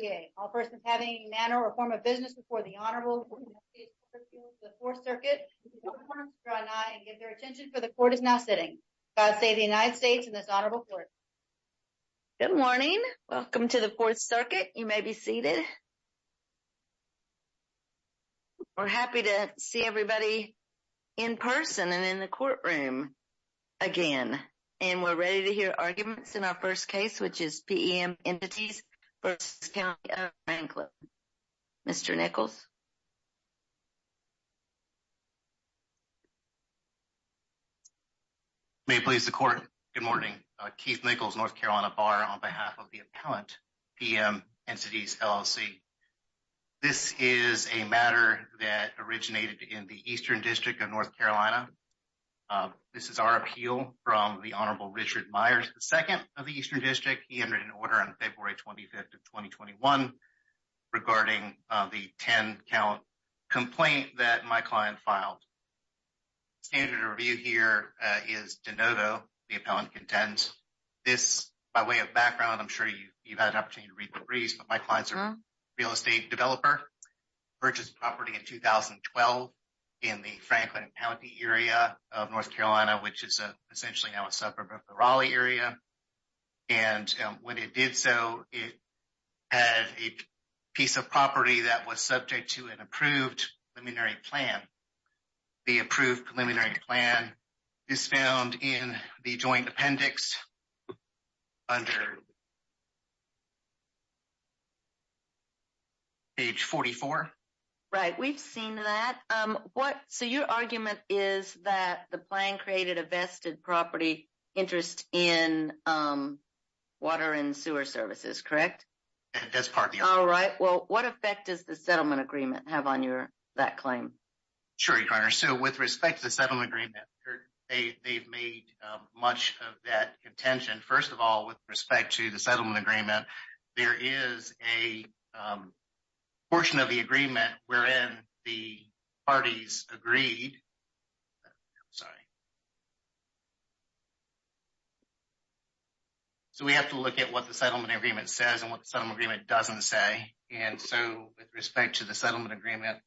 VA. All persons having manner or form of business before the Honorable Court of Appeals of the Fourth Circuit, please do not turn off your eye and give your attention for the Court is now sitting. God save the United States and this Honorable Court. Good morning. Welcome to the Fourth Circuit. You may be seated. We're happy to see everybody in person and in the courtroom again. And we're ready to hear arguments in our first case, which is PEM Entities v. County of Franklin. Mr. Nichols, you may please record. Good morning. Keith Nichols, North Carolina Bar on behalf of the Appellant PEM Entities LLC. This is a matter that originated in the Eastern District of North Carolina. This is our appeal from the Honorable Richard Myers, the second of the Eastern District. He entered an order on February 25th of 2021 regarding the 10-count complaint that my client filed. Standard of review here is Denodo, the appellant contends. This, by way of background, I'm sure you've had an opportunity to read the briefs, but my client's a real estate developer, purchased property in 2012 in the Franklin County area of North Carolina, which is essentially now a suburb of the Raleigh area. And when it did so, it had a piece of property that was subject to an approved preliminary plan. The approved preliminary plan is found in the joint appendix under page 44. Right. We've seen that. So, your argument is that the plan created a vested property interest in water and sewer services, correct? That's part of the argument. All right. Well, what effect does the settlement agreement have on that claim? Sure, Your Honor. So, with respect to the much of that contention, first of all, with respect to the settlement agreement, there is a portion of the agreement wherein the parties agreed. I'm sorry. So, we have to look at what the settlement agreement says and what the settlement agreement doesn't say. And so, with respect to the settlement agreement...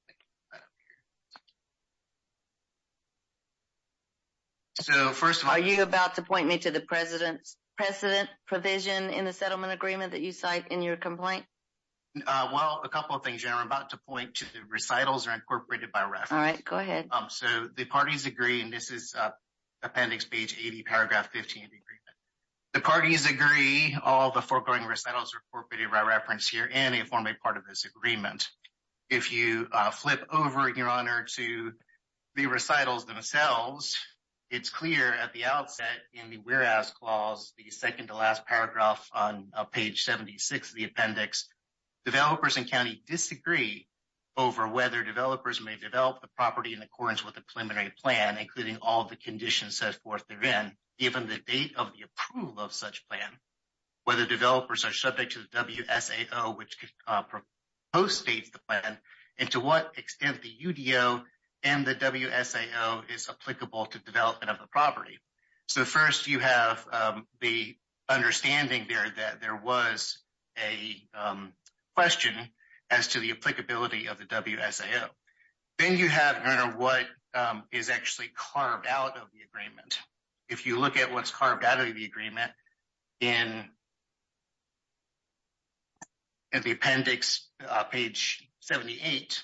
So, first of all... Are you about to point me to the precedent provision in the settlement agreement that you cite in your complaint? Well, a couple of things, Your Honor. I'm about to point to the recitals are incorporated by reference. All right. Go ahead. So, the parties agree, and this is appendix page 80, paragraph 15 of the agreement. The parties agree all the foregoing recitals are incorporated by reference here and they flip over, Your Honor, to the recitals themselves. It's clear at the outset in the whereas clause, the second to last paragraph on page 76 of the appendix, developers and county disagree over whether developers may develop the property in accordance with the preliminary plan, including all the conditions set forth therein, given the date of the approval of such plan, whether developers are subject to the WSAO, which propostates the plan, and to what extent the UDO and the WSAO is applicable to development of the property. So, first, you have the understanding there that there was a question as to the applicability of the WSAO. Then you have, Your Honor, what is actually carved out of the agreement. If you look at what's carved out of the agreement in the appendix, page 78,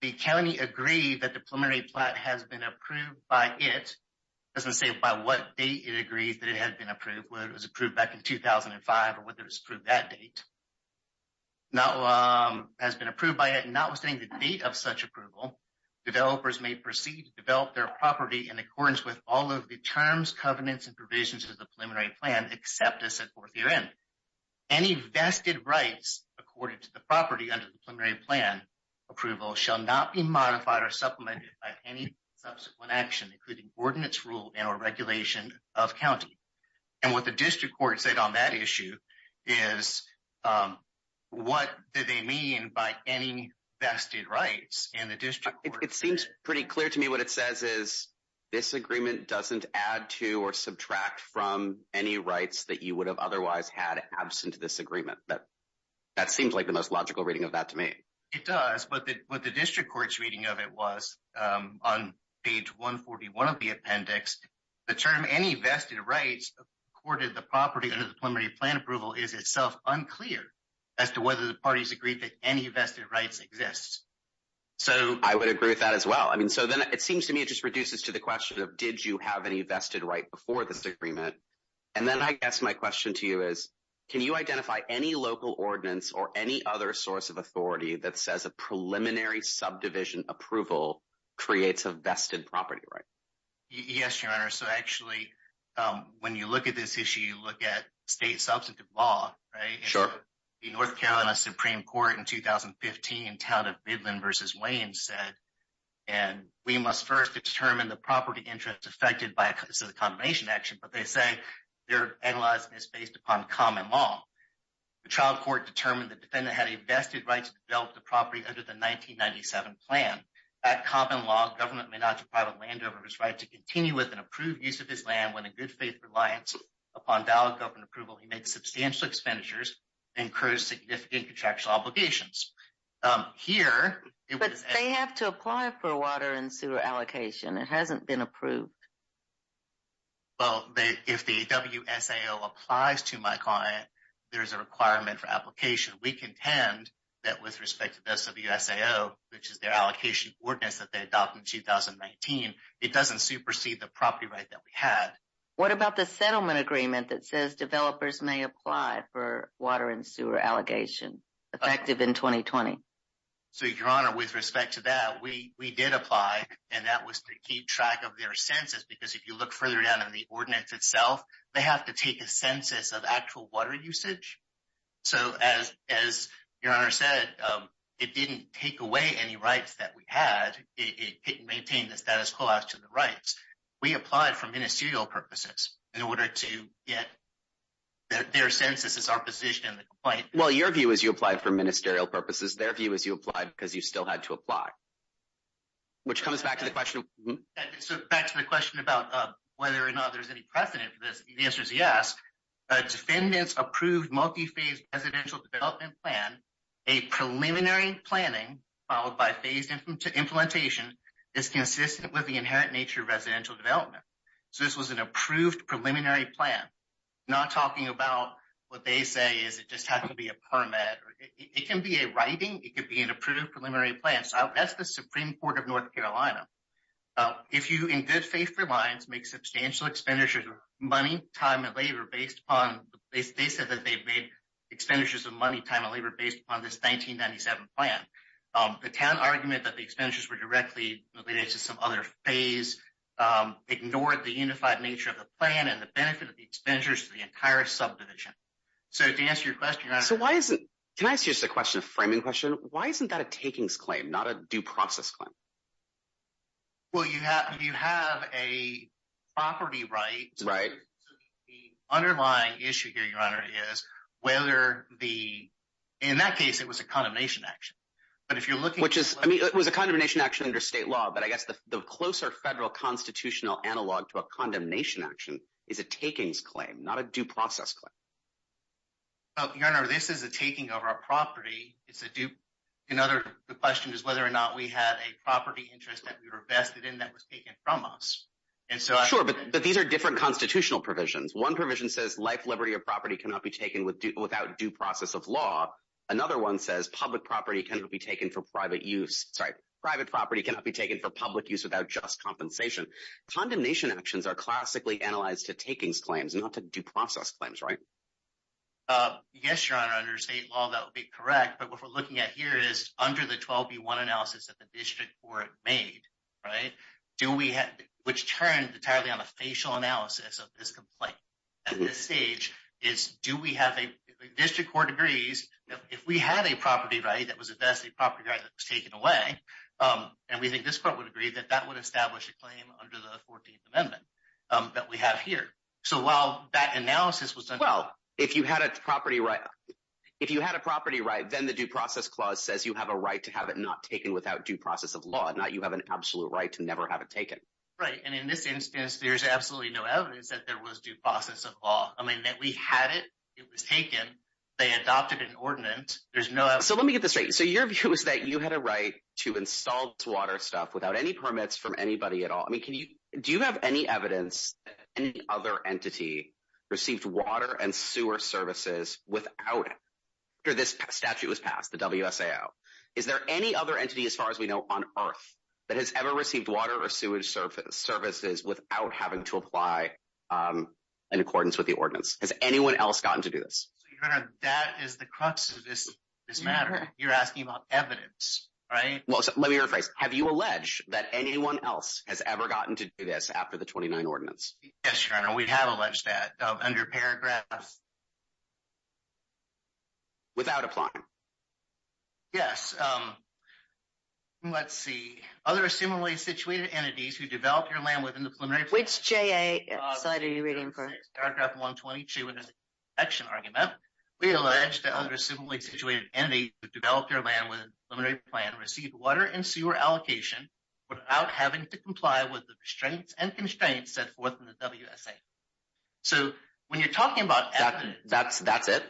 the county agreed that the preliminary plan has been approved by it. It doesn't say by what date it agreed that it had been approved, whether it was approved back in 2005 or whether it was approved that date. Now, has been approved by it, notwithstanding the date of such approval, developers may proceed to develop their property in accordance with all of the terms, covenants, and provisions of the preliminary plan except as set forth therein. Any vested rights, according to the property under the preliminary plan approval, shall not be modified or supplemented by any subsequent action, including ordinance rule and or regulation of county. And what the pretty clear to me what it says is this agreement doesn't add to or subtract from any rights that you would have otherwise had absent this agreement. That seems like the most logical reading of that to me. It does. But what the district court's reading of it was on page 141 of the appendix, the term any vested rights accorded the property under the preliminary plan approval is itself unclear as to whether the parties agreed that any vested rights exist. So I would agree with that as well. I mean, so then it seems to me it just reduces to the question of did you have any vested right before this agreement? And then I guess my question to you is, can you identify any local ordinance or any other source of authority that says a preliminary subdivision approval creates a vested property, right? Yes, your honor. So, actually, when you look at this issue, you look at state substantive law, right? Sure. The North Carolina Supreme Court in 2015 in town of Midland versus Wayne said, and we must first determine the property interest affected by the combination action. But they say their analyzing is based upon common law. The trial court determined the defendant had a vested right to develop the property under the 1997 plan. That common law government may not deprive a landowner of his right to continue with an approved use of his land when a good faith reliance upon valid government approval, he made substantial expenditures and incurred significant contractual obligations. Here- But they have to apply for water and sewer allocation. It hasn't been approved. Well, if the WSAO applies to my client, there's a requirement for application. We contend that with respect to the SWSAO, which is their allocation ordinance that they adopted in 2019, it doesn't supersede the property right that we had. What about the settlement agreement that says developers may apply for water and sewer allocation effective in 2020? So your honor, with respect to that, we did apply and that was to keep track of their census, because if you look further down in the ordinance itself, they have to take a census of actual water usage. So as your honor said, it didn't take away any rights that we had. It didn't maintain the status quo as to the rights. We applied for ministerial purposes in order to get their census as our position in the complaint. Well, your view is you applied for ministerial purposes. Their view is you applied because you still had to apply, which comes back to the question- So back to the question about whether or not there's any precedent for this. The answer is yes. A defendant's approved multi-phase residential development plan, a preliminary planning followed by phased implementation is consistent with the inherent nature of residential development. So this was an approved preliminary plan. I'm not talking about what they say is it just has to be a permit. It can be a writing. It could be an approved preliminary plan. So that's the Supreme Court of North Carolina. If you, in good faith for lines, make substantial expenditures of money, time, and labor based upon, they said that they made expenditures of money, time, and labor based upon this 1997 plan. The town argument that the expenditures were directly related to some other phase ignored the unified nature of the plan and the benefit of the expenditures to the entire subdivision. So to answer your question- So why isn't, can I ask you just a question, a framing question? Why isn't that a takings claim, not a due process claim? Well, you have a property right. The underlying issue here, Your Honor, is whether the, in that case, it was a condemnation action. But if you're looking- Which is, I mean, it was a condemnation action under state law, but I guess the closer federal constitutional analog to a condemnation action is a takings claim, not a due process claim. Your Honor, this is a taking of our property. It's a due, another question is whether or not we had a property interest that we were vested in that was taken from us. And so- Sure, but these are different constitutional provisions. One provision says life, liberty, or property cannot be taken without due process of law. Another one says public property cannot be taken for private use, sorry, private property cannot be taken for public use without just compensation. Condemnation actions are classically analyzed to takings claims, not to due process claims, right? Yes, Your Honor, under state law, that would be correct. But what we're looking at here is which turned entirely on a facial analysis of this complaint at this stage, is do we have a, district court agrees that if we had a property right that was a vested property right that was taken away, and we think this court would agree that that would establish a claim under the 14th amendment that we have here. So while that analysis was done- Well, if you had a property right, then the due process clause says you have a right to have it not taken without due process of law, not you have an absolute right to never have it taken. Right, and in this instance, there's absolutely no evidence that there was due process of law. I mean, that we had it, it was taken, they adopted an ordinance, there's no- So let me get this straight. So your view is that you had a right to install this water stuff without any permits from anybody at all. I mean, can you, do you have any evidence that any other entity received water and sewer services without it, after this statute was passed, the WSAO? Is there any other entity, as far as we know, on earth that has ever received water or sewage services without having to apply in accordance with the ordinance? Has anyone else gotten to do this? Your Honor, that is the crux of this matter. You're asking about evidence, right? Well, let me rephrase. Have you alleged that anyone else has ever gotten to do this after the 29 ordinance? Yes, Your Honor, we have alleged that, under paragraph- Without applying. Yes. Let's see. Other similarly situated entities who develop their land within the preliminary- Which JA side are you reading from? Paragraph 122 in this section argument, we allege that other similarly situated entities who develop their land within the preliminary plan received water and sewer allocation without having to comply with the restraints and when you're talking about evidence- That's it?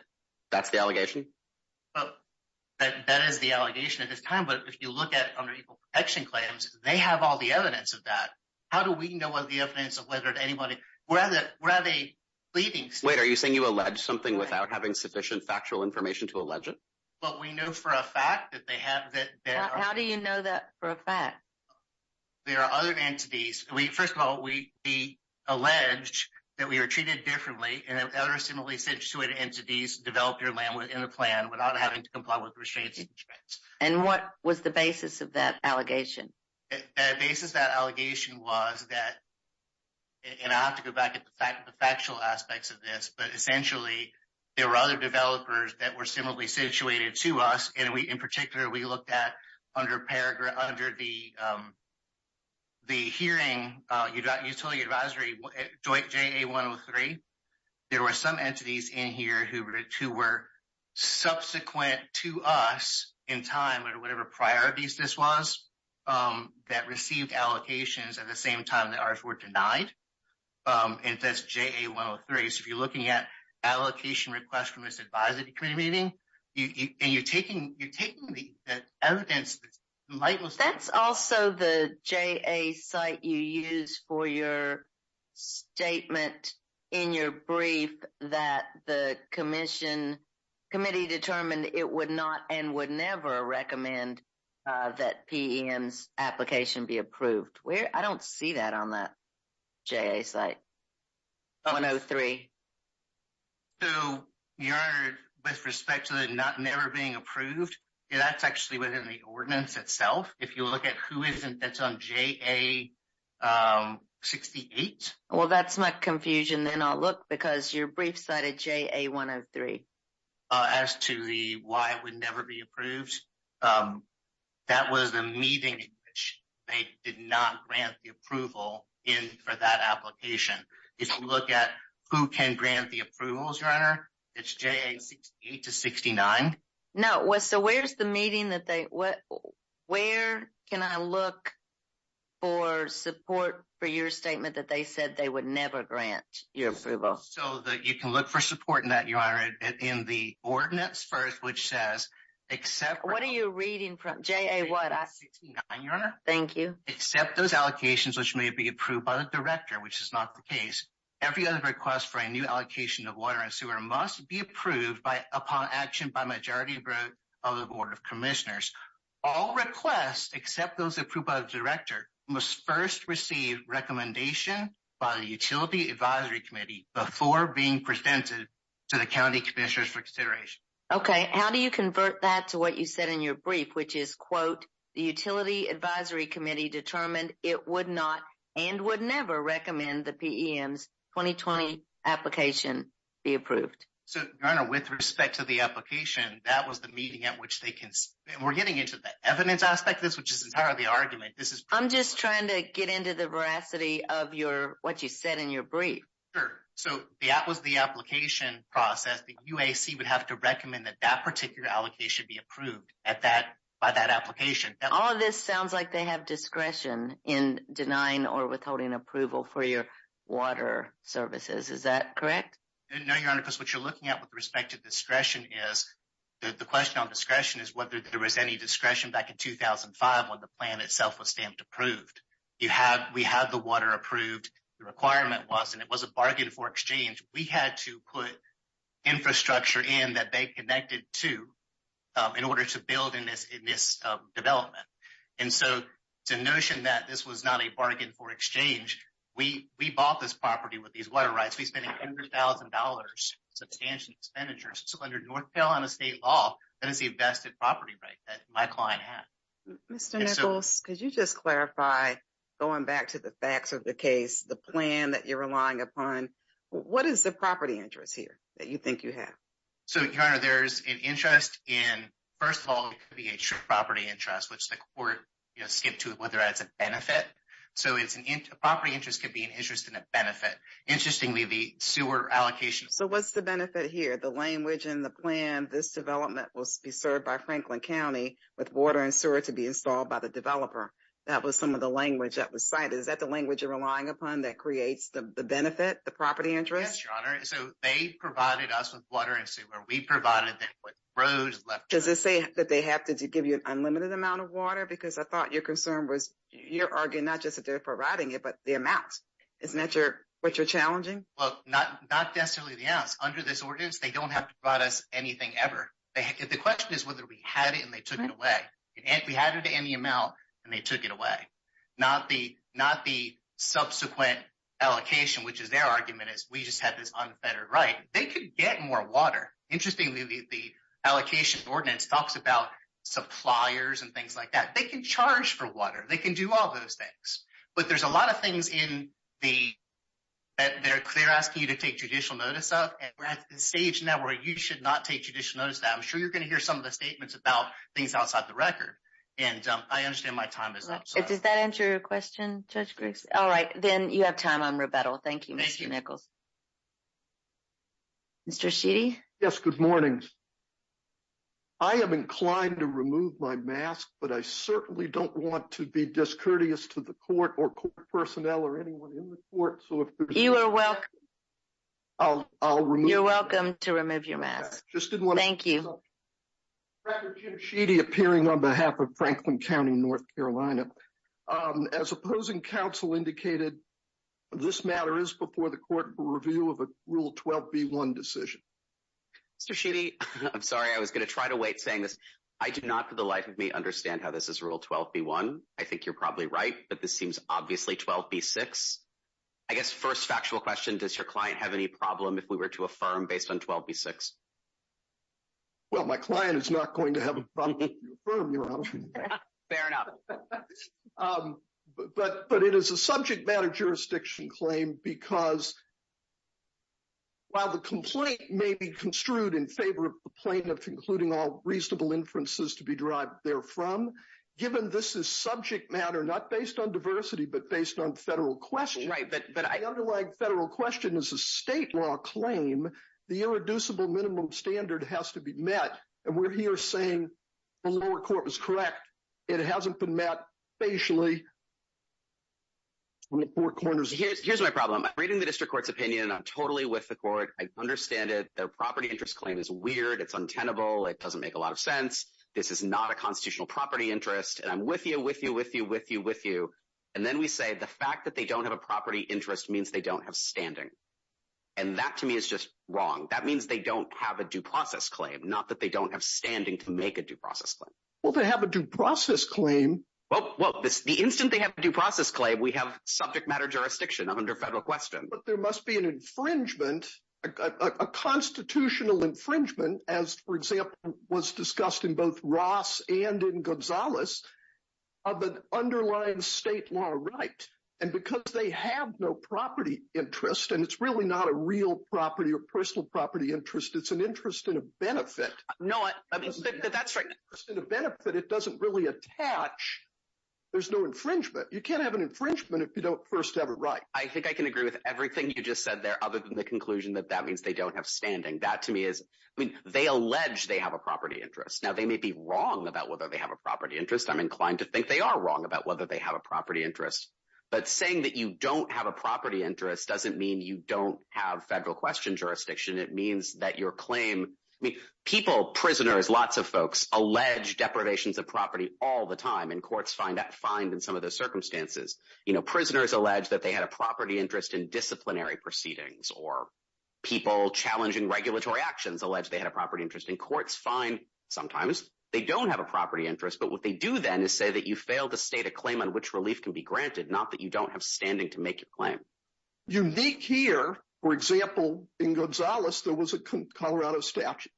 That's the allegation? That is the allegation at this time, but if you look at under Equal Protection Claims, they have all the evidence of that. How do we know what the evidence of whether anybody, where are they leading? Wait, are you saying you allege something without having sufficient factual information to allege it? Well, we know for a fact that they have- How do you know that for a fact? There are other entities. First of all, we allege that we are treated differently, and that other similarly situated entities develop their land within the plan without having to comply with the restraints. And what was the basis of that allegation? The basis of that allegation was that, and I have to go back to the factual aspects of this, but essentially, there were other developers that were similarly situated to us, in particular, we looked at under the hearing, utility advisory joint JA-103, there were some entities in here who were subsequent to us in time or whatever priorities this was that received allocations at the same time that ours were denied, and that's JA-103. So, if you're looking at allocation requests from this advisory committee meeting, and you're taking the evidence- That's also the JA site you use for your statement in your brief that the commission, committee determined it would not and would never recommend that PEM's application be approved. I don't see that on that JA site, 103. So, Your Honor, with respect to the not never being approved, that's actually within the ordinance itself. If you look at who isn't, that's on JA-68. Well, that's my confusion. Then I'll look because your brief cited JA-103. As to the why it would never be approved, that was the meeting in which they did not grant the application. If you look at who can grant the approvals, Your Honor, it's JA-68 to 69. No. So, where's the meeting that they, where can I look for support for your statement that they said they would never grant your approval? So, you can look for support in that, Your Honor, in the ordinance first, which says, except- What are you reading from? JA what? JA-69, Your Honor. Thank you. Except those allocations which may be approved by the director, which is not the case, every other request for a new allocation of water and sewer must be approved by, upon action by majority vote of the Board of Commissioners. All requests except those approved by the director must first receive recommendation by the Utility Advisory Committee before being presented to the County Commissioners for consideration. Okay. How do you convert that to what you it would not and would never recommend the PEM's 2020 application be approved? So, Your Honor, with respect to the application, that was the meeting at which they can, we're getting into the evidence aspect of this, which is entirely argument. This is- I'm just trying to get into the veracity of your, what you said in your brief. Sure. So, that was the application process. The UAC would have to recommend that that particular allocation be approved at that, by that application. All of this sounds like they have discretion in denying or withholding approval for your water services. Is that correct? No, Your Honor, because what you're looking at with respect to discretion is, the question on discretion is whether there was any discretion back in 2005 when the plan itself was stamped approved. You have, we have the water approved. The requirement was, and it was a bargain for exchange. We had to put infrastructure in that bank connected to, in order to build in this development. And so, to notion that this was not a bargain for exchange, we bought this property with these water rights. We spent $100,000 substantial expenditures. So, under North Carolina state law, that is the invested property right that my client had. Mr. Nichols, could you just clarify, going back to the facts of the case, the plan that you're relying upon, what is the property interest here that you think you have? So, Your Honor, there's an interest in, first of all, it could be a property interest, which the court, you know, skipped to whether that's a benefit. So, it's an, a property interest could be an interest in a benefit. Interestingly, the sewer allocation. So, what's the benefit here? The language in the plan, this development will be served by Franklin County with water and sewer to be installed by the developer. That was some of the language that was cited. Is that the language you're relying upon that creates the benefit, the property interest? Yes, Your Honor. So, they provided us with water and sewer. We provided them with roads. Does it say that they have to give you an unlimited amount of water? Because I thought your concern was you're arguing not just that they're providing it, but the amounts. Isn't that what you're challenging? Well, not necessarily the amounts. Under this ordinance, they don't have to provide us anything ever. The question is whether we had it and they took it away. We had it in the amount and they took it away. Not the subsequent allocation, which is their argument is we just had this unfettered right. They could get more water. Interestingly, the allocation ordinance talks about suppliers and things like that. They can charge for water. They can do all those things. But there's a lot of things in the, that they're asking you to take judicial notice of. And we're at the stage now where you should not take judicial notice of that. I'm sure you're going hear some of the statements about things outside the record. And I understand my time is up. Does that answer your question, Judge Griggs? All right. Then you have time on rebuttal. Thank you, Mr. Nichols. Mr. Sheedy? Yes. Good morning. I am inclined to remove my mask, but I certainly don't want to be discourteous to the court or court personnel or anyone in the court. You are welcome. You're welcome to remove your mask. Thank you. Record, Jim Sheedy, appearing on behalf of Franklin County, North Carolina. As opposing counsel indicated, this matter is before the court for review of a Rule 12b1 decision. Mr. Sheedy, I'm sorry. I was going to try to wait saying this. I do not for the life of me understand how this is Rule 12b1. I think you're probably right, but this seems obviously 12b6. I guess first factual question, does your client have any problem if we were to affirm based on 12b6? Well, my client is not going to have a problem. Fair enough. But it is a subject matter jurisdiction claim because while the complaint may be construed in favor of the plaintiff, including all reasonable inferences to be derived therefrom, given this is subject matter, not based on diversity, but based on federal question. But the underlying federal question is a state law claim. The irreducible minimum standard has to be met. And we're here saying the lower court was correct. It hasn't been met facially. Here's my problem. I'm reading the district court's opinion. I'm totally with the court. I understand it. Their property interest claim is weird. It's untenable. It doesn't make a lot of sense. This is not a constitutional property interest. And I'm with you, with you, with you, with you. And then we say the fact that they don't have a property interest means they don't have standing. And that to me is just wrong. That means they don't have a due process claim, not that they don't have standing to make a due process claim. Well, they have a due process claim. Well, the instant they have a due process claim, we have subject matter jurisdiction under federal question. But there must be an infringement, a constitutional infringement, as, for example, was discussed in both Ross and in Gonzalez, of an underlying state law right. And because they have no property interest, and it's really not a real property or personal property interest, it's an interest in a benefit. No, that's right. It's an interest in a benefit. It doesn't really attach. There's no infringement. You can't have an infringement if you don't first have a right. I think I can agree with everything you just said there, other than the conclusion that that means they don't have standing. That to me is, I mean, they allege they have a property interest. Now, they may be wrong about whether they have a property interest. I'm inclined to think they are wrong about whether they have a property interest. But saying that you don't have a property interest doesn't mean you don't have federal question jurisdiction. It means that your claim, I mean, people, prisoners, lots of folks, allege deprivations of property all the time. And courts find that fine in some of those circumstances. You know, prisoners allege that they had a property interest in disciplinary interest. And courts find sometimes they don't have a property interest. But what they do then is say that you fail to state a claim on which relief can be granted, not that you don't have standing to make your claim. Unique here, for example, in Gonzales, there was a Colorado statute.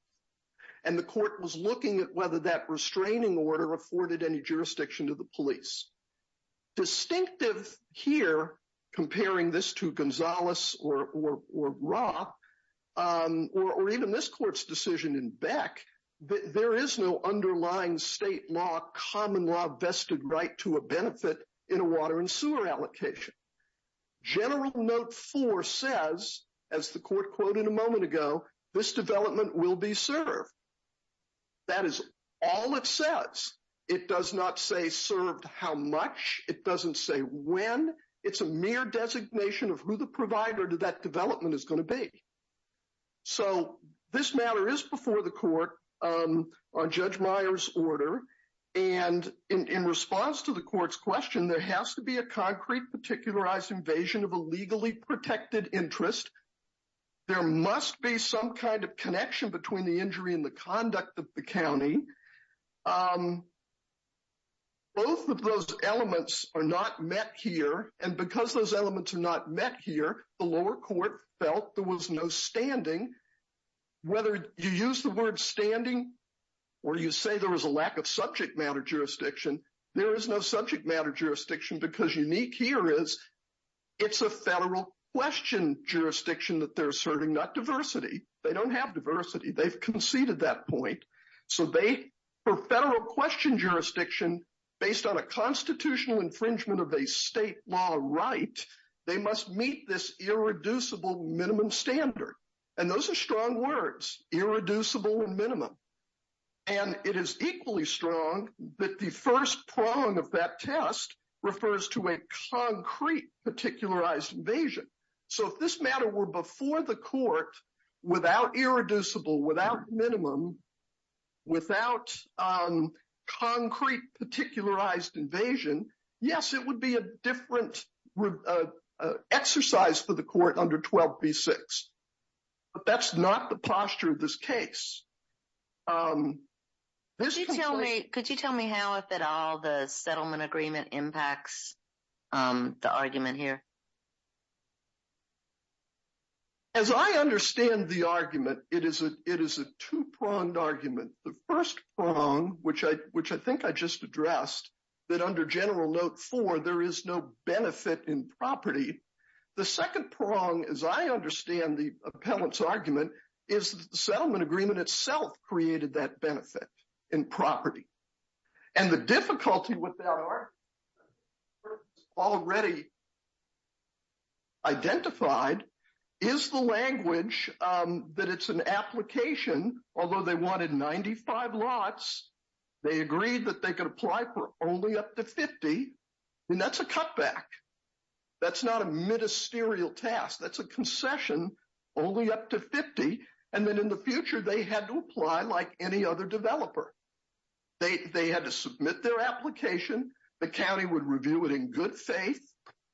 And the court was looking at whether that restraining order afforded any jurisdiction to the police. Distinctive here, comparing this to Gonzales or Roth, or even this court's decision in Beck, there is no underlying state law, common law vested right to a benefit in a water and sewer allocation. General Note 4 says, as the court quoted a moment ago, this development will be served. That is all it says. It does not say served how much. It doesn't say when. It's a designation of who the provider to that development is going to be. So this matter is before the court on Judge Meyer's order. And in response to the court's question, there has to be a concrete particularized invasion of a legally protected interest. There must be some kind of connection between the injury and the conduct of the county. Both of those elements are not met here. And because those elements are not met here, the lower court felt there was no standing. Whether you use the word standing or you say there was a lack of subject matter jurisdiction, there is no subject matter jurisdiction because unique here is it's a federal question jurisdiction that they're asserting, not diversity. They don't have diversity. They've conceded that point. So they, for federal question jurisdiction, based on a constitutional infringement of a state law right, they must meet this irreducible minimum standard. And those are strong words, irreducible and minimum. And it is equally strong that the first prong of that test refers to a concrete particularized invasion. So if this matter were before the court without irreducible, without minimum, without concrete particularized invasion, yes, it would be a different exercise for the court under 12b-6. But that's not the posture of this case. Could you tell me how, if at all, the settlement agreement impacts the argument here? As I understand the argument, it is a two-pronged argument. The first prong, which I think I just addressed, that under General Note 4, there is no benefit in property. The second prong, as I understand the appellant's argument, is the settlement agreement itself created that benefit in property. And the difficulty with that, or already identified, is the language, that it's an application, although they wanted 95 lots, they agreed that they could apply for only up to 50. And that's a cutback. That's not a ministerial task. That's a concession, only up to 50. And then in the future, they had to apply like any other developer. They had to submit their application. The county would review it in good faith.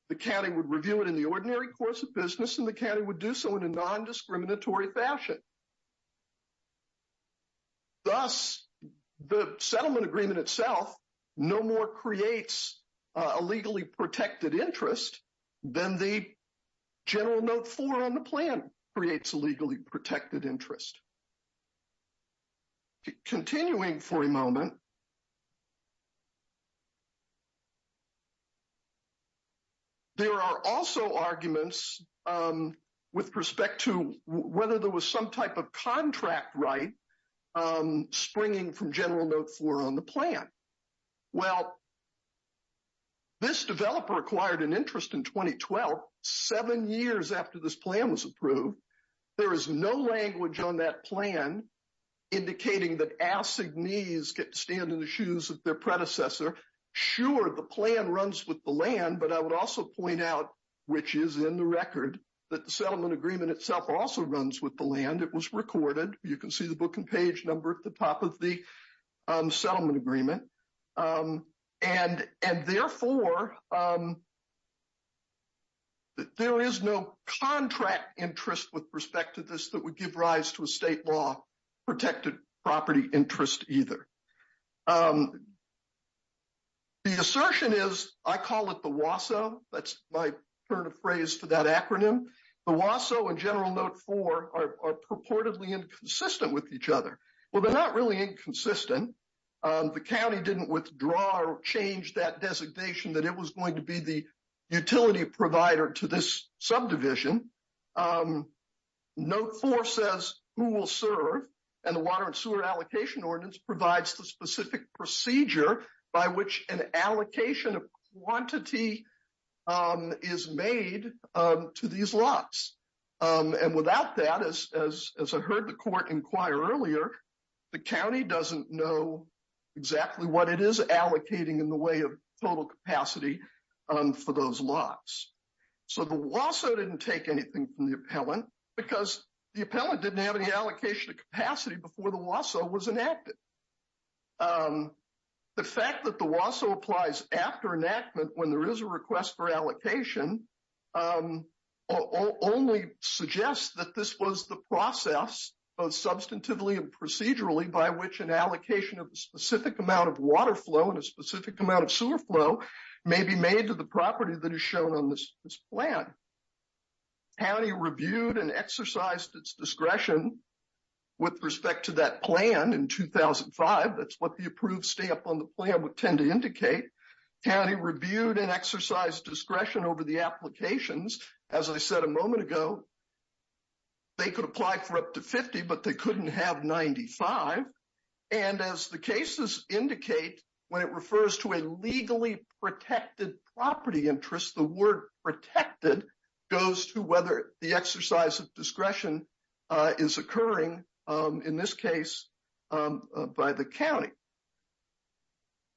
The county would review it in the ordinary course of business. And the county would do so in a non-discriminatory fashion. Thus, the settlement agreement itself no more creates a legally protected interest than the General Note 4 on the plan creates a legally protected interest. Continuing for a moment, there are also arguments with respect to whether there was some type of contract right springing from General Note 4 on the plan. Well, this developer acquired an interest in 2012, seven years after this plan was approved. There is no language on that plan indicating that assignees get to stand in the shoes of their predecessor. Sure, the plan runs with the land, but I would also point out, which is in the record, that the settlement agreement itself also runs with the land. It was recorded. You can see the book and page number at the top of the settlement agreement. And therefore, there is no contract interest with respect to this that would give rise to a state law protected property interest either. The assertion is, I call it the WASO. That's consistent with each other. Well, they're not really inconsistent. The county didn't withdraw or change that designation that it was going to be the utility provider to this subdivision. Note 4 says who will serve, and the Water and Sewer Allocation Ordinance provides the specific procedure by which an allocation of quantity is made to these lots. And without that, as I heard the court inquire earlier, the county doesn't know exactly what it is allocating in the way of total capacity for those lots. So the WASO didn't take anything from the appellant because the appellant didn't have any allocation of capacity before the WASO was enacted. The fact that the WASO applies after enactment when there is a request for allocation only suggests that this was the process, both substantively and procedurally, by which an allocation of a specific amount of water flow and a specific amount of sewer flow may be made to the property that is shown on this plan. County reviewed and exercised its discretion with respect to that plan in 2005. That's what the approved stamp on the plan would tend to indicate. County reviewed and exercised discretion over the applications. As I said a moment ago, they could apply for up to 50, but they couldn't have 95. And as the cases indicate, when it refers to a legally protected property interest, the word protected goes to whether the exercise of discretion is occurring in this case by the county.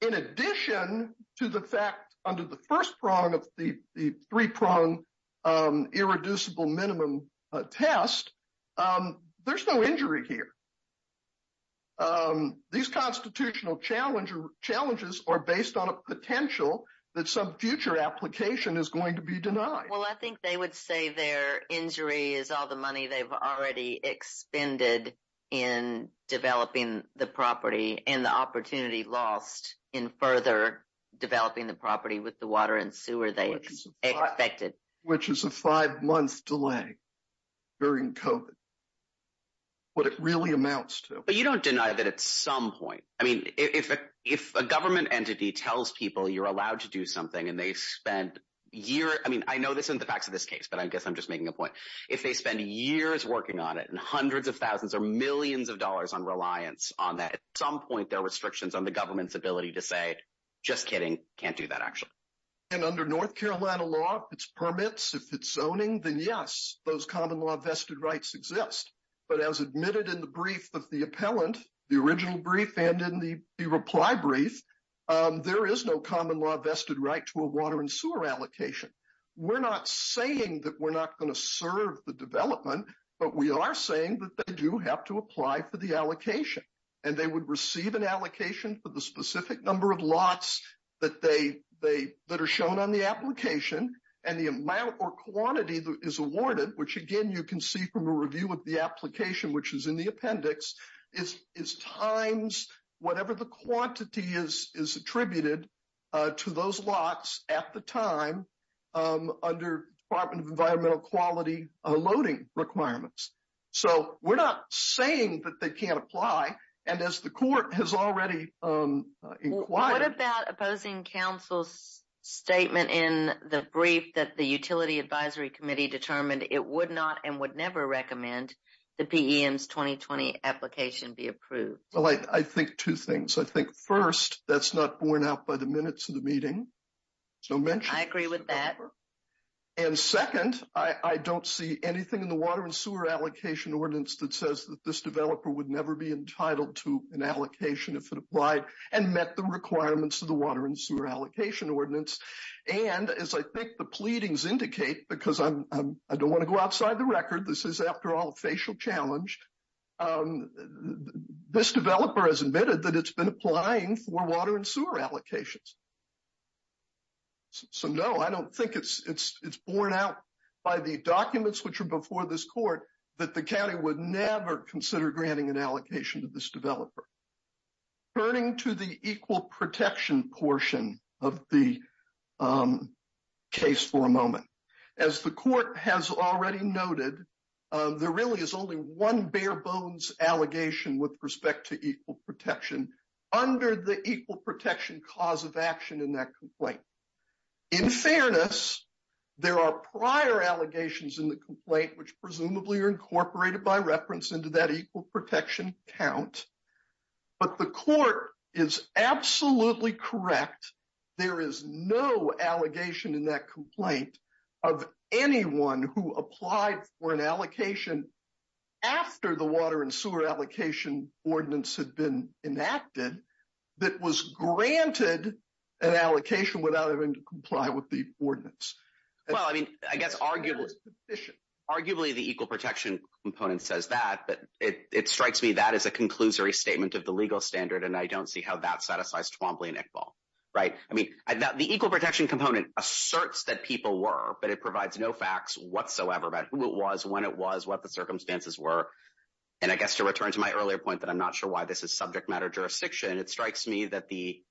In addition to the fact under the first prong of the three-prong irreducible minimum test, there's no injury here. These constitutional challenges are based on a potential that some future application is going to be denied. Well, I think they would say their injury is all the money they've already expended in developing the property and the opportunity lost in further developing the property with the water and sewer they expected. Which is a five-month delay during COVID, what it really amounts to. But you don't deny that at some point. I mean, if a government entity tells people you're allowed to do something and they spent a year, I mean, I know this isn't the facts of this case, but I guess I'm just making a point. If they spend years working on it and hundreds of thousands or millions of dollars on reliance on that, at some point, there are restrictions on the government's ability to say, just kidding, can't do that actually. And under North Carolina law, it's permits. If it's zoning, then yes, those common law vested rights exist. But as admitted in the brief of the to a water and sewer allocation. We're not saying that we're not going to serve the development, but we are saying that they do have to apply for the allocation. And they would receive an allocation for the specific number of lots that are shown on the application and the amount or quantity that is awarded, which again, you can see from a review of the application, which is in the appendix, is times whatever the quantity is attributed to those lots at the time under Department of Environmental Quality loading requirements. So we're not saying that they can't apply. And as the court has already inquired. What about opposing council's statement in the brief that the Utility Advisory Committee determined it would not and would never recommend the PEM's 2020 application be approved? Well, I think two things. I think first, that's not borne out by the minutes of the meeting. So mentioned. I agree with that. And second, I don't see anything in the water and sewer allocation ordinance that says that this developer would never be entitled to an allocation if it applied and met the requirements of the water and sewer allocation ordinance. And as I think the pleadings indicate, because I don't want to go outside the record, this is after all facial challenged. This developer has admitted that it's been applying for water and sewer allocations. So no, I don't think it's borne out by the documents which are before this court, that the county would never consider granting an allocation to this developer. Turning to the equal protection portion of the case for a moment. As the court has already noted, there really is only one bare bones allegation with respect to equal protection under the equal protection cause of action in that complaint. In fairness, there are prior allegations in the complaint which presumably are incorporated by reference into that equal protection count. But the court is absolutely correct. There is no allegation in that complaint of anyone who applied for an allocation after the water and sewer allocation ordinance had been enacted that was granted an allocation without having to comply with the ordinance. Well, I mean, I guess arguably the equal protection component says that, but it strikes me that is a conclusory statement of the legal standard and I don't see how that satisfies Twombly and Iqbal, right? I mean, the equal protection component asserts that people were, but it provides no facts whatsoever about who it was, when it was, what the circumstances were. And I guess to return to my earlier point that I'm not sure why this is subject matter jurisdiction, it strikes me that the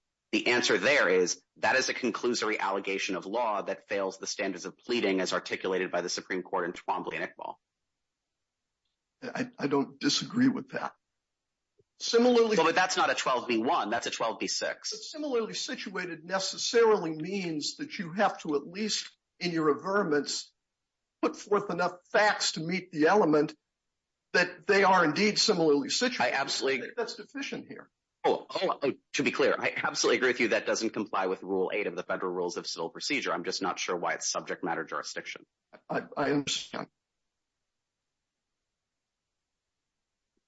answer there is that is a conclusory allegation of law that fails the standards of pleading as articulated by the Supreme Court in Twombly and Iqbal. I don't disagree with that. Similarly- Well, but that's not a 12B1, that's a 12B6. Similarly situated necessarily means that you have to at least in your averments put forth enough facts to meet the element that they are indeed similarly situated. I absolutely- That's deficient here. Oh, to be clear, I absolutely agree with you that doesn't comply with rule eight of the federal rules of civil procedure. I'm just not sure why it's subject matter jurisdiction. I understand.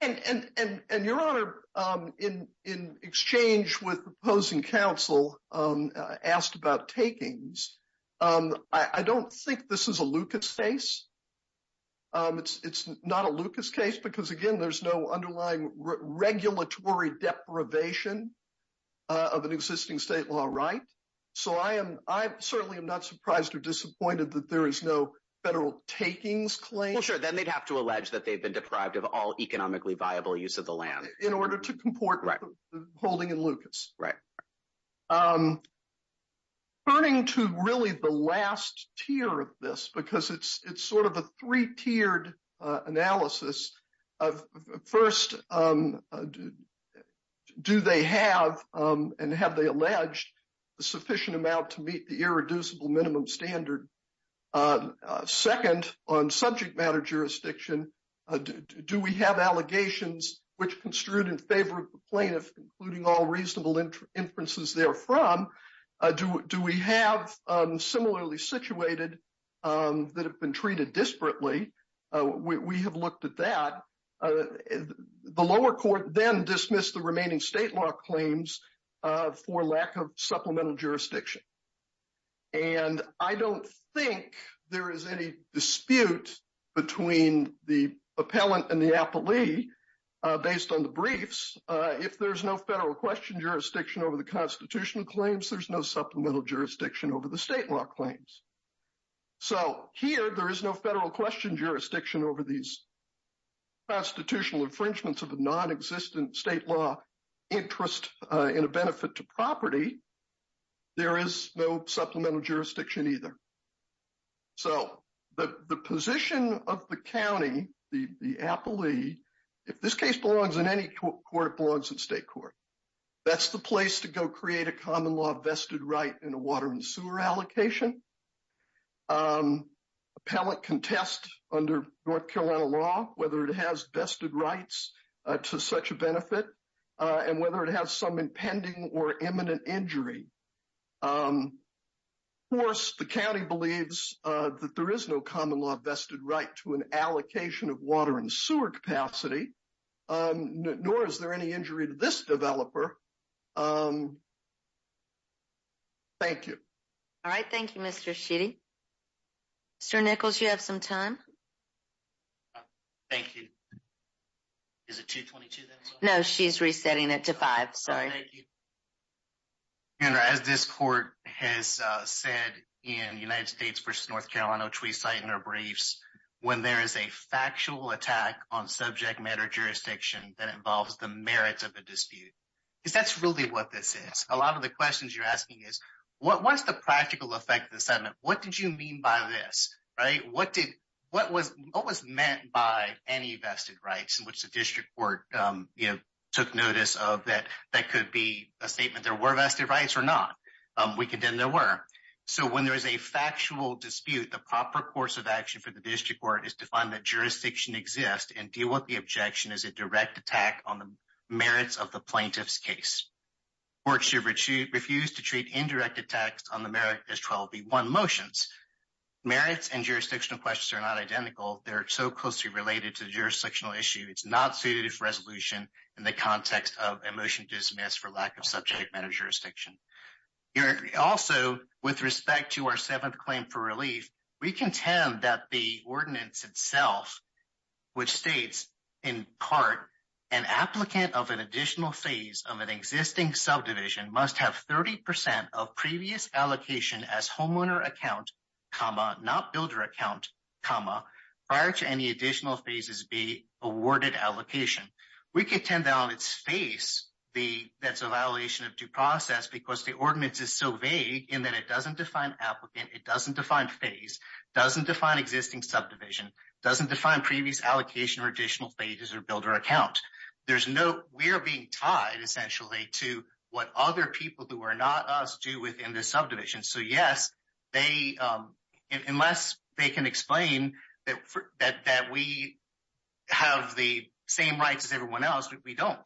And Your Honor, in exchange with opposing counsel asked about takings, I don't think this is a Lucas case. It's not a Lucas case because again, there's no underlying regulatory deprivation of an existing state law, right? So I certainly am not surprised or federal takings claim- Well, sure. Then they'd have to allege that they've been deprived of all economically viable use of the land. In order to comport with the holding in Lucas. Right. Turning to really the last tier of this, because it's sort of a three-tiered analysis of first, do they have and have they alleged a sufficient amount to meet the irreducible minimum standard on second on subject matter jurisdiction? Do we have allegations which construed in favor of the plaintiff, including all reasonable inferences therefrom? Do we have similarly situated that have been treated disparately? We have looked at that. The lower court then dismissed the remaining state law claims for lack of supplemental jurisdiction. And I don't think there is any dispute between the appellant and the appellee based on the briefs. If there's no federal question jurisdiction over the constitutional claims, there's no supplemental jurisdiction over the state law claims. So here there is no federal question jurisdiction over these constitutional infringements of a non-existent state law interest in a benefit to property. There is no supplemental jurisdiction either. So the position of the county, the appellee, if this case belongs in any court, it belongs in state court. That's the place to go create a common law vested right in a water and sewer allocation. Appellant contest under North Carolina law, whether it has vested rights to such a benefit and whether it has some impending or imminent injury. Of course, the county believes that there is no common law vested right to an allocation of water and sewer capacity, nor is there any injury to this developer. Thank you. All right. Thank you, Mr. Sheedy. Mr. Nichols, you have some time. Thank you. Is it 2.22 then? No, she's resetting it to five. Sorry. Thank you. As this court has said in United States versus North Carolina, which we cite in our briefs, when there is a factual attack on subject matter jurisdiction that involves the merits of a dispute, because that's really what this is. A lot of the questions you're asking is, what's the practical effect of the settlement? What did you mean by this? What was meant by any vested rights in which the district court took notice of that that could be a statement, there were vested rights or not? We condemn there were. So when there is a factual dispute, the proper course of action for the district court is to find that jurisdiction exists and deal with the objection as a direct attack on the merits of the plaintiff's case. Court should refuse to treat indirect attacks on the merit as 12B1 motions. Merits and jurisdictional questions are not identical. They're so closely related to the jurisdictional issue. It's not suited for resolution in the context of a motion dismissed for lack of subject matter jurisdiction. Also, with respect to our seventh claim for relief, we contend that the ordinance itself, which states in part, an applicant of an additional phase of existing subdivision must have 30% of previous allocation as homeowner account, not builder account, prior to any additional phases be awarded allocation. We contend that on its face, that's a violation of due process because the ordinance is so vague in that it doesn't define applicant, it doesn't define phase, doesn't define existing subdivision, doesn't define previous allocation or additional phases or builder account. We're being tied essentially to what other people who are not us do within the subdivision. So yes, unless they can explain that we have the same rights as everyone else, we don't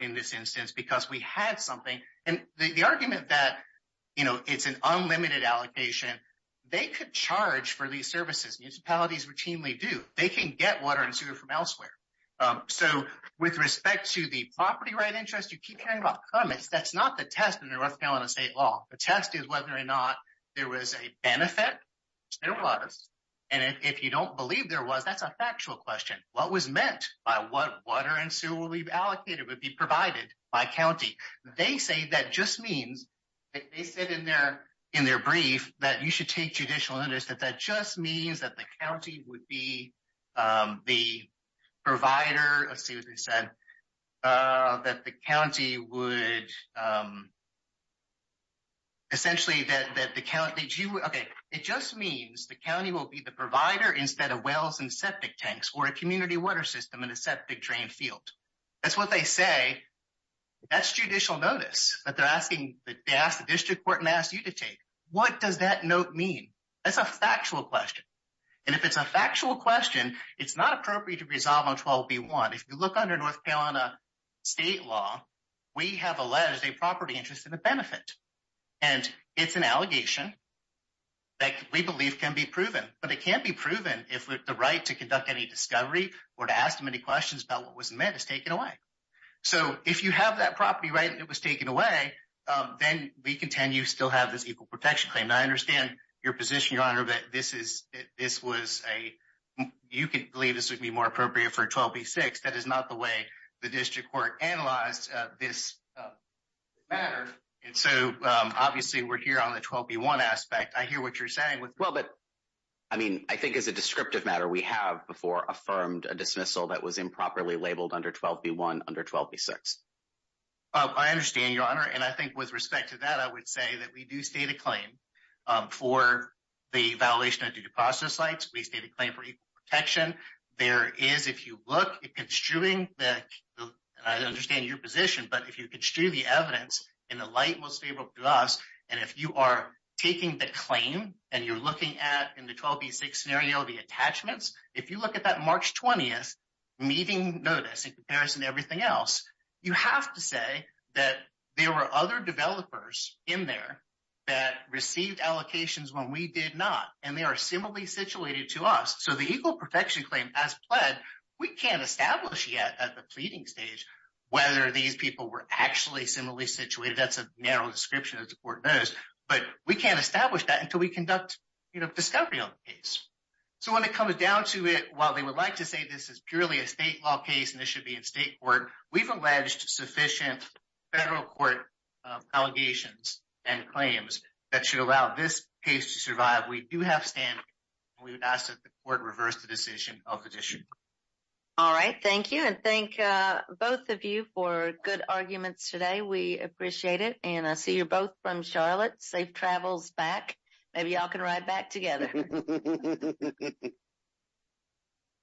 in this instance because we had something. And the argument that it's an unlimited allocation, they could charge for these services. Municipalities routinely do. They can get water and sewer from elsewhere. So with respect to the property right interest, you keep hearing about permits. That's not the test in the North Carolina state law. The test is whether or not there was a benefit. There was. And if you don't believe there was, that's a factual question. What was meant by what water and sewer will be allocated, would be provided by county. They say that just means, they said in their brief that you should take judicial notice, that that just means that the county would be the provider. Let's see what they said. That the county would essentially that the county... Okay. It just means the county will be the provider instead of wells and septic tanks or a community water system in a septic drain field. That's what they say. That's judicial notice that they're asking the district court and ask you to What does that note mean? That's a factual question. And if it's a factual question, it's not appropriate to resolve on 12B1. If you look under North Carolina state law, we have alleged a property interest and a benefit. And it's an allegation that we believe can be proven, but it can't be proven if the right to conduct any discovery or to ask them any questions about what was meant is taken away. So if you have that property right and it was taken away, then we contend you still have this equal protection claim. And I understand your position, your honor, that this was a... You could believe this would be more appropriate for 12B6. That is not the way the district court analyzed this matter. And so obviously we're here on the 12B1 aspect. I hear what you're saying with... Well, but I mean, I think as a descriptive matter, we have before affirmed a dismissal that was improperly labeled under 12B1, under 12B6. Oh, I understand your honor. And I think with respect to that, I would say that we do state a claim for the violation of due process rights. We state a claim for equal protection. There is, if you look at construing the... I understand your position, but if you construe the evidence in the light most favorable to us, and if you are taking the claim and you're looking at in the 12B6 scenario, the attachments, if you look at that March 20th meeting notice in comparison to everything else, you have to say that there were other developers in there that received allocations when we did not. And they are similarly situated to us. So the equal protection claim as pled, we can't establish yet at the pleading stage, whether these people were actually similarly situated. That's a narrow description as the court knows, but we can't establish that until we conduct discovery on the case. So when it comes down to it, while they would like to say this is state court, we've alleged sufficient federal court allegations and claims that should allow this case to survive. We do have standing. We would ask that the court reverse the decision of the petition. All right. Thank you. And thank both of you for good arguments today. We appreciate it. And I see you're both from Charlotte. Safe travels back. Maybe y'all can ride back together.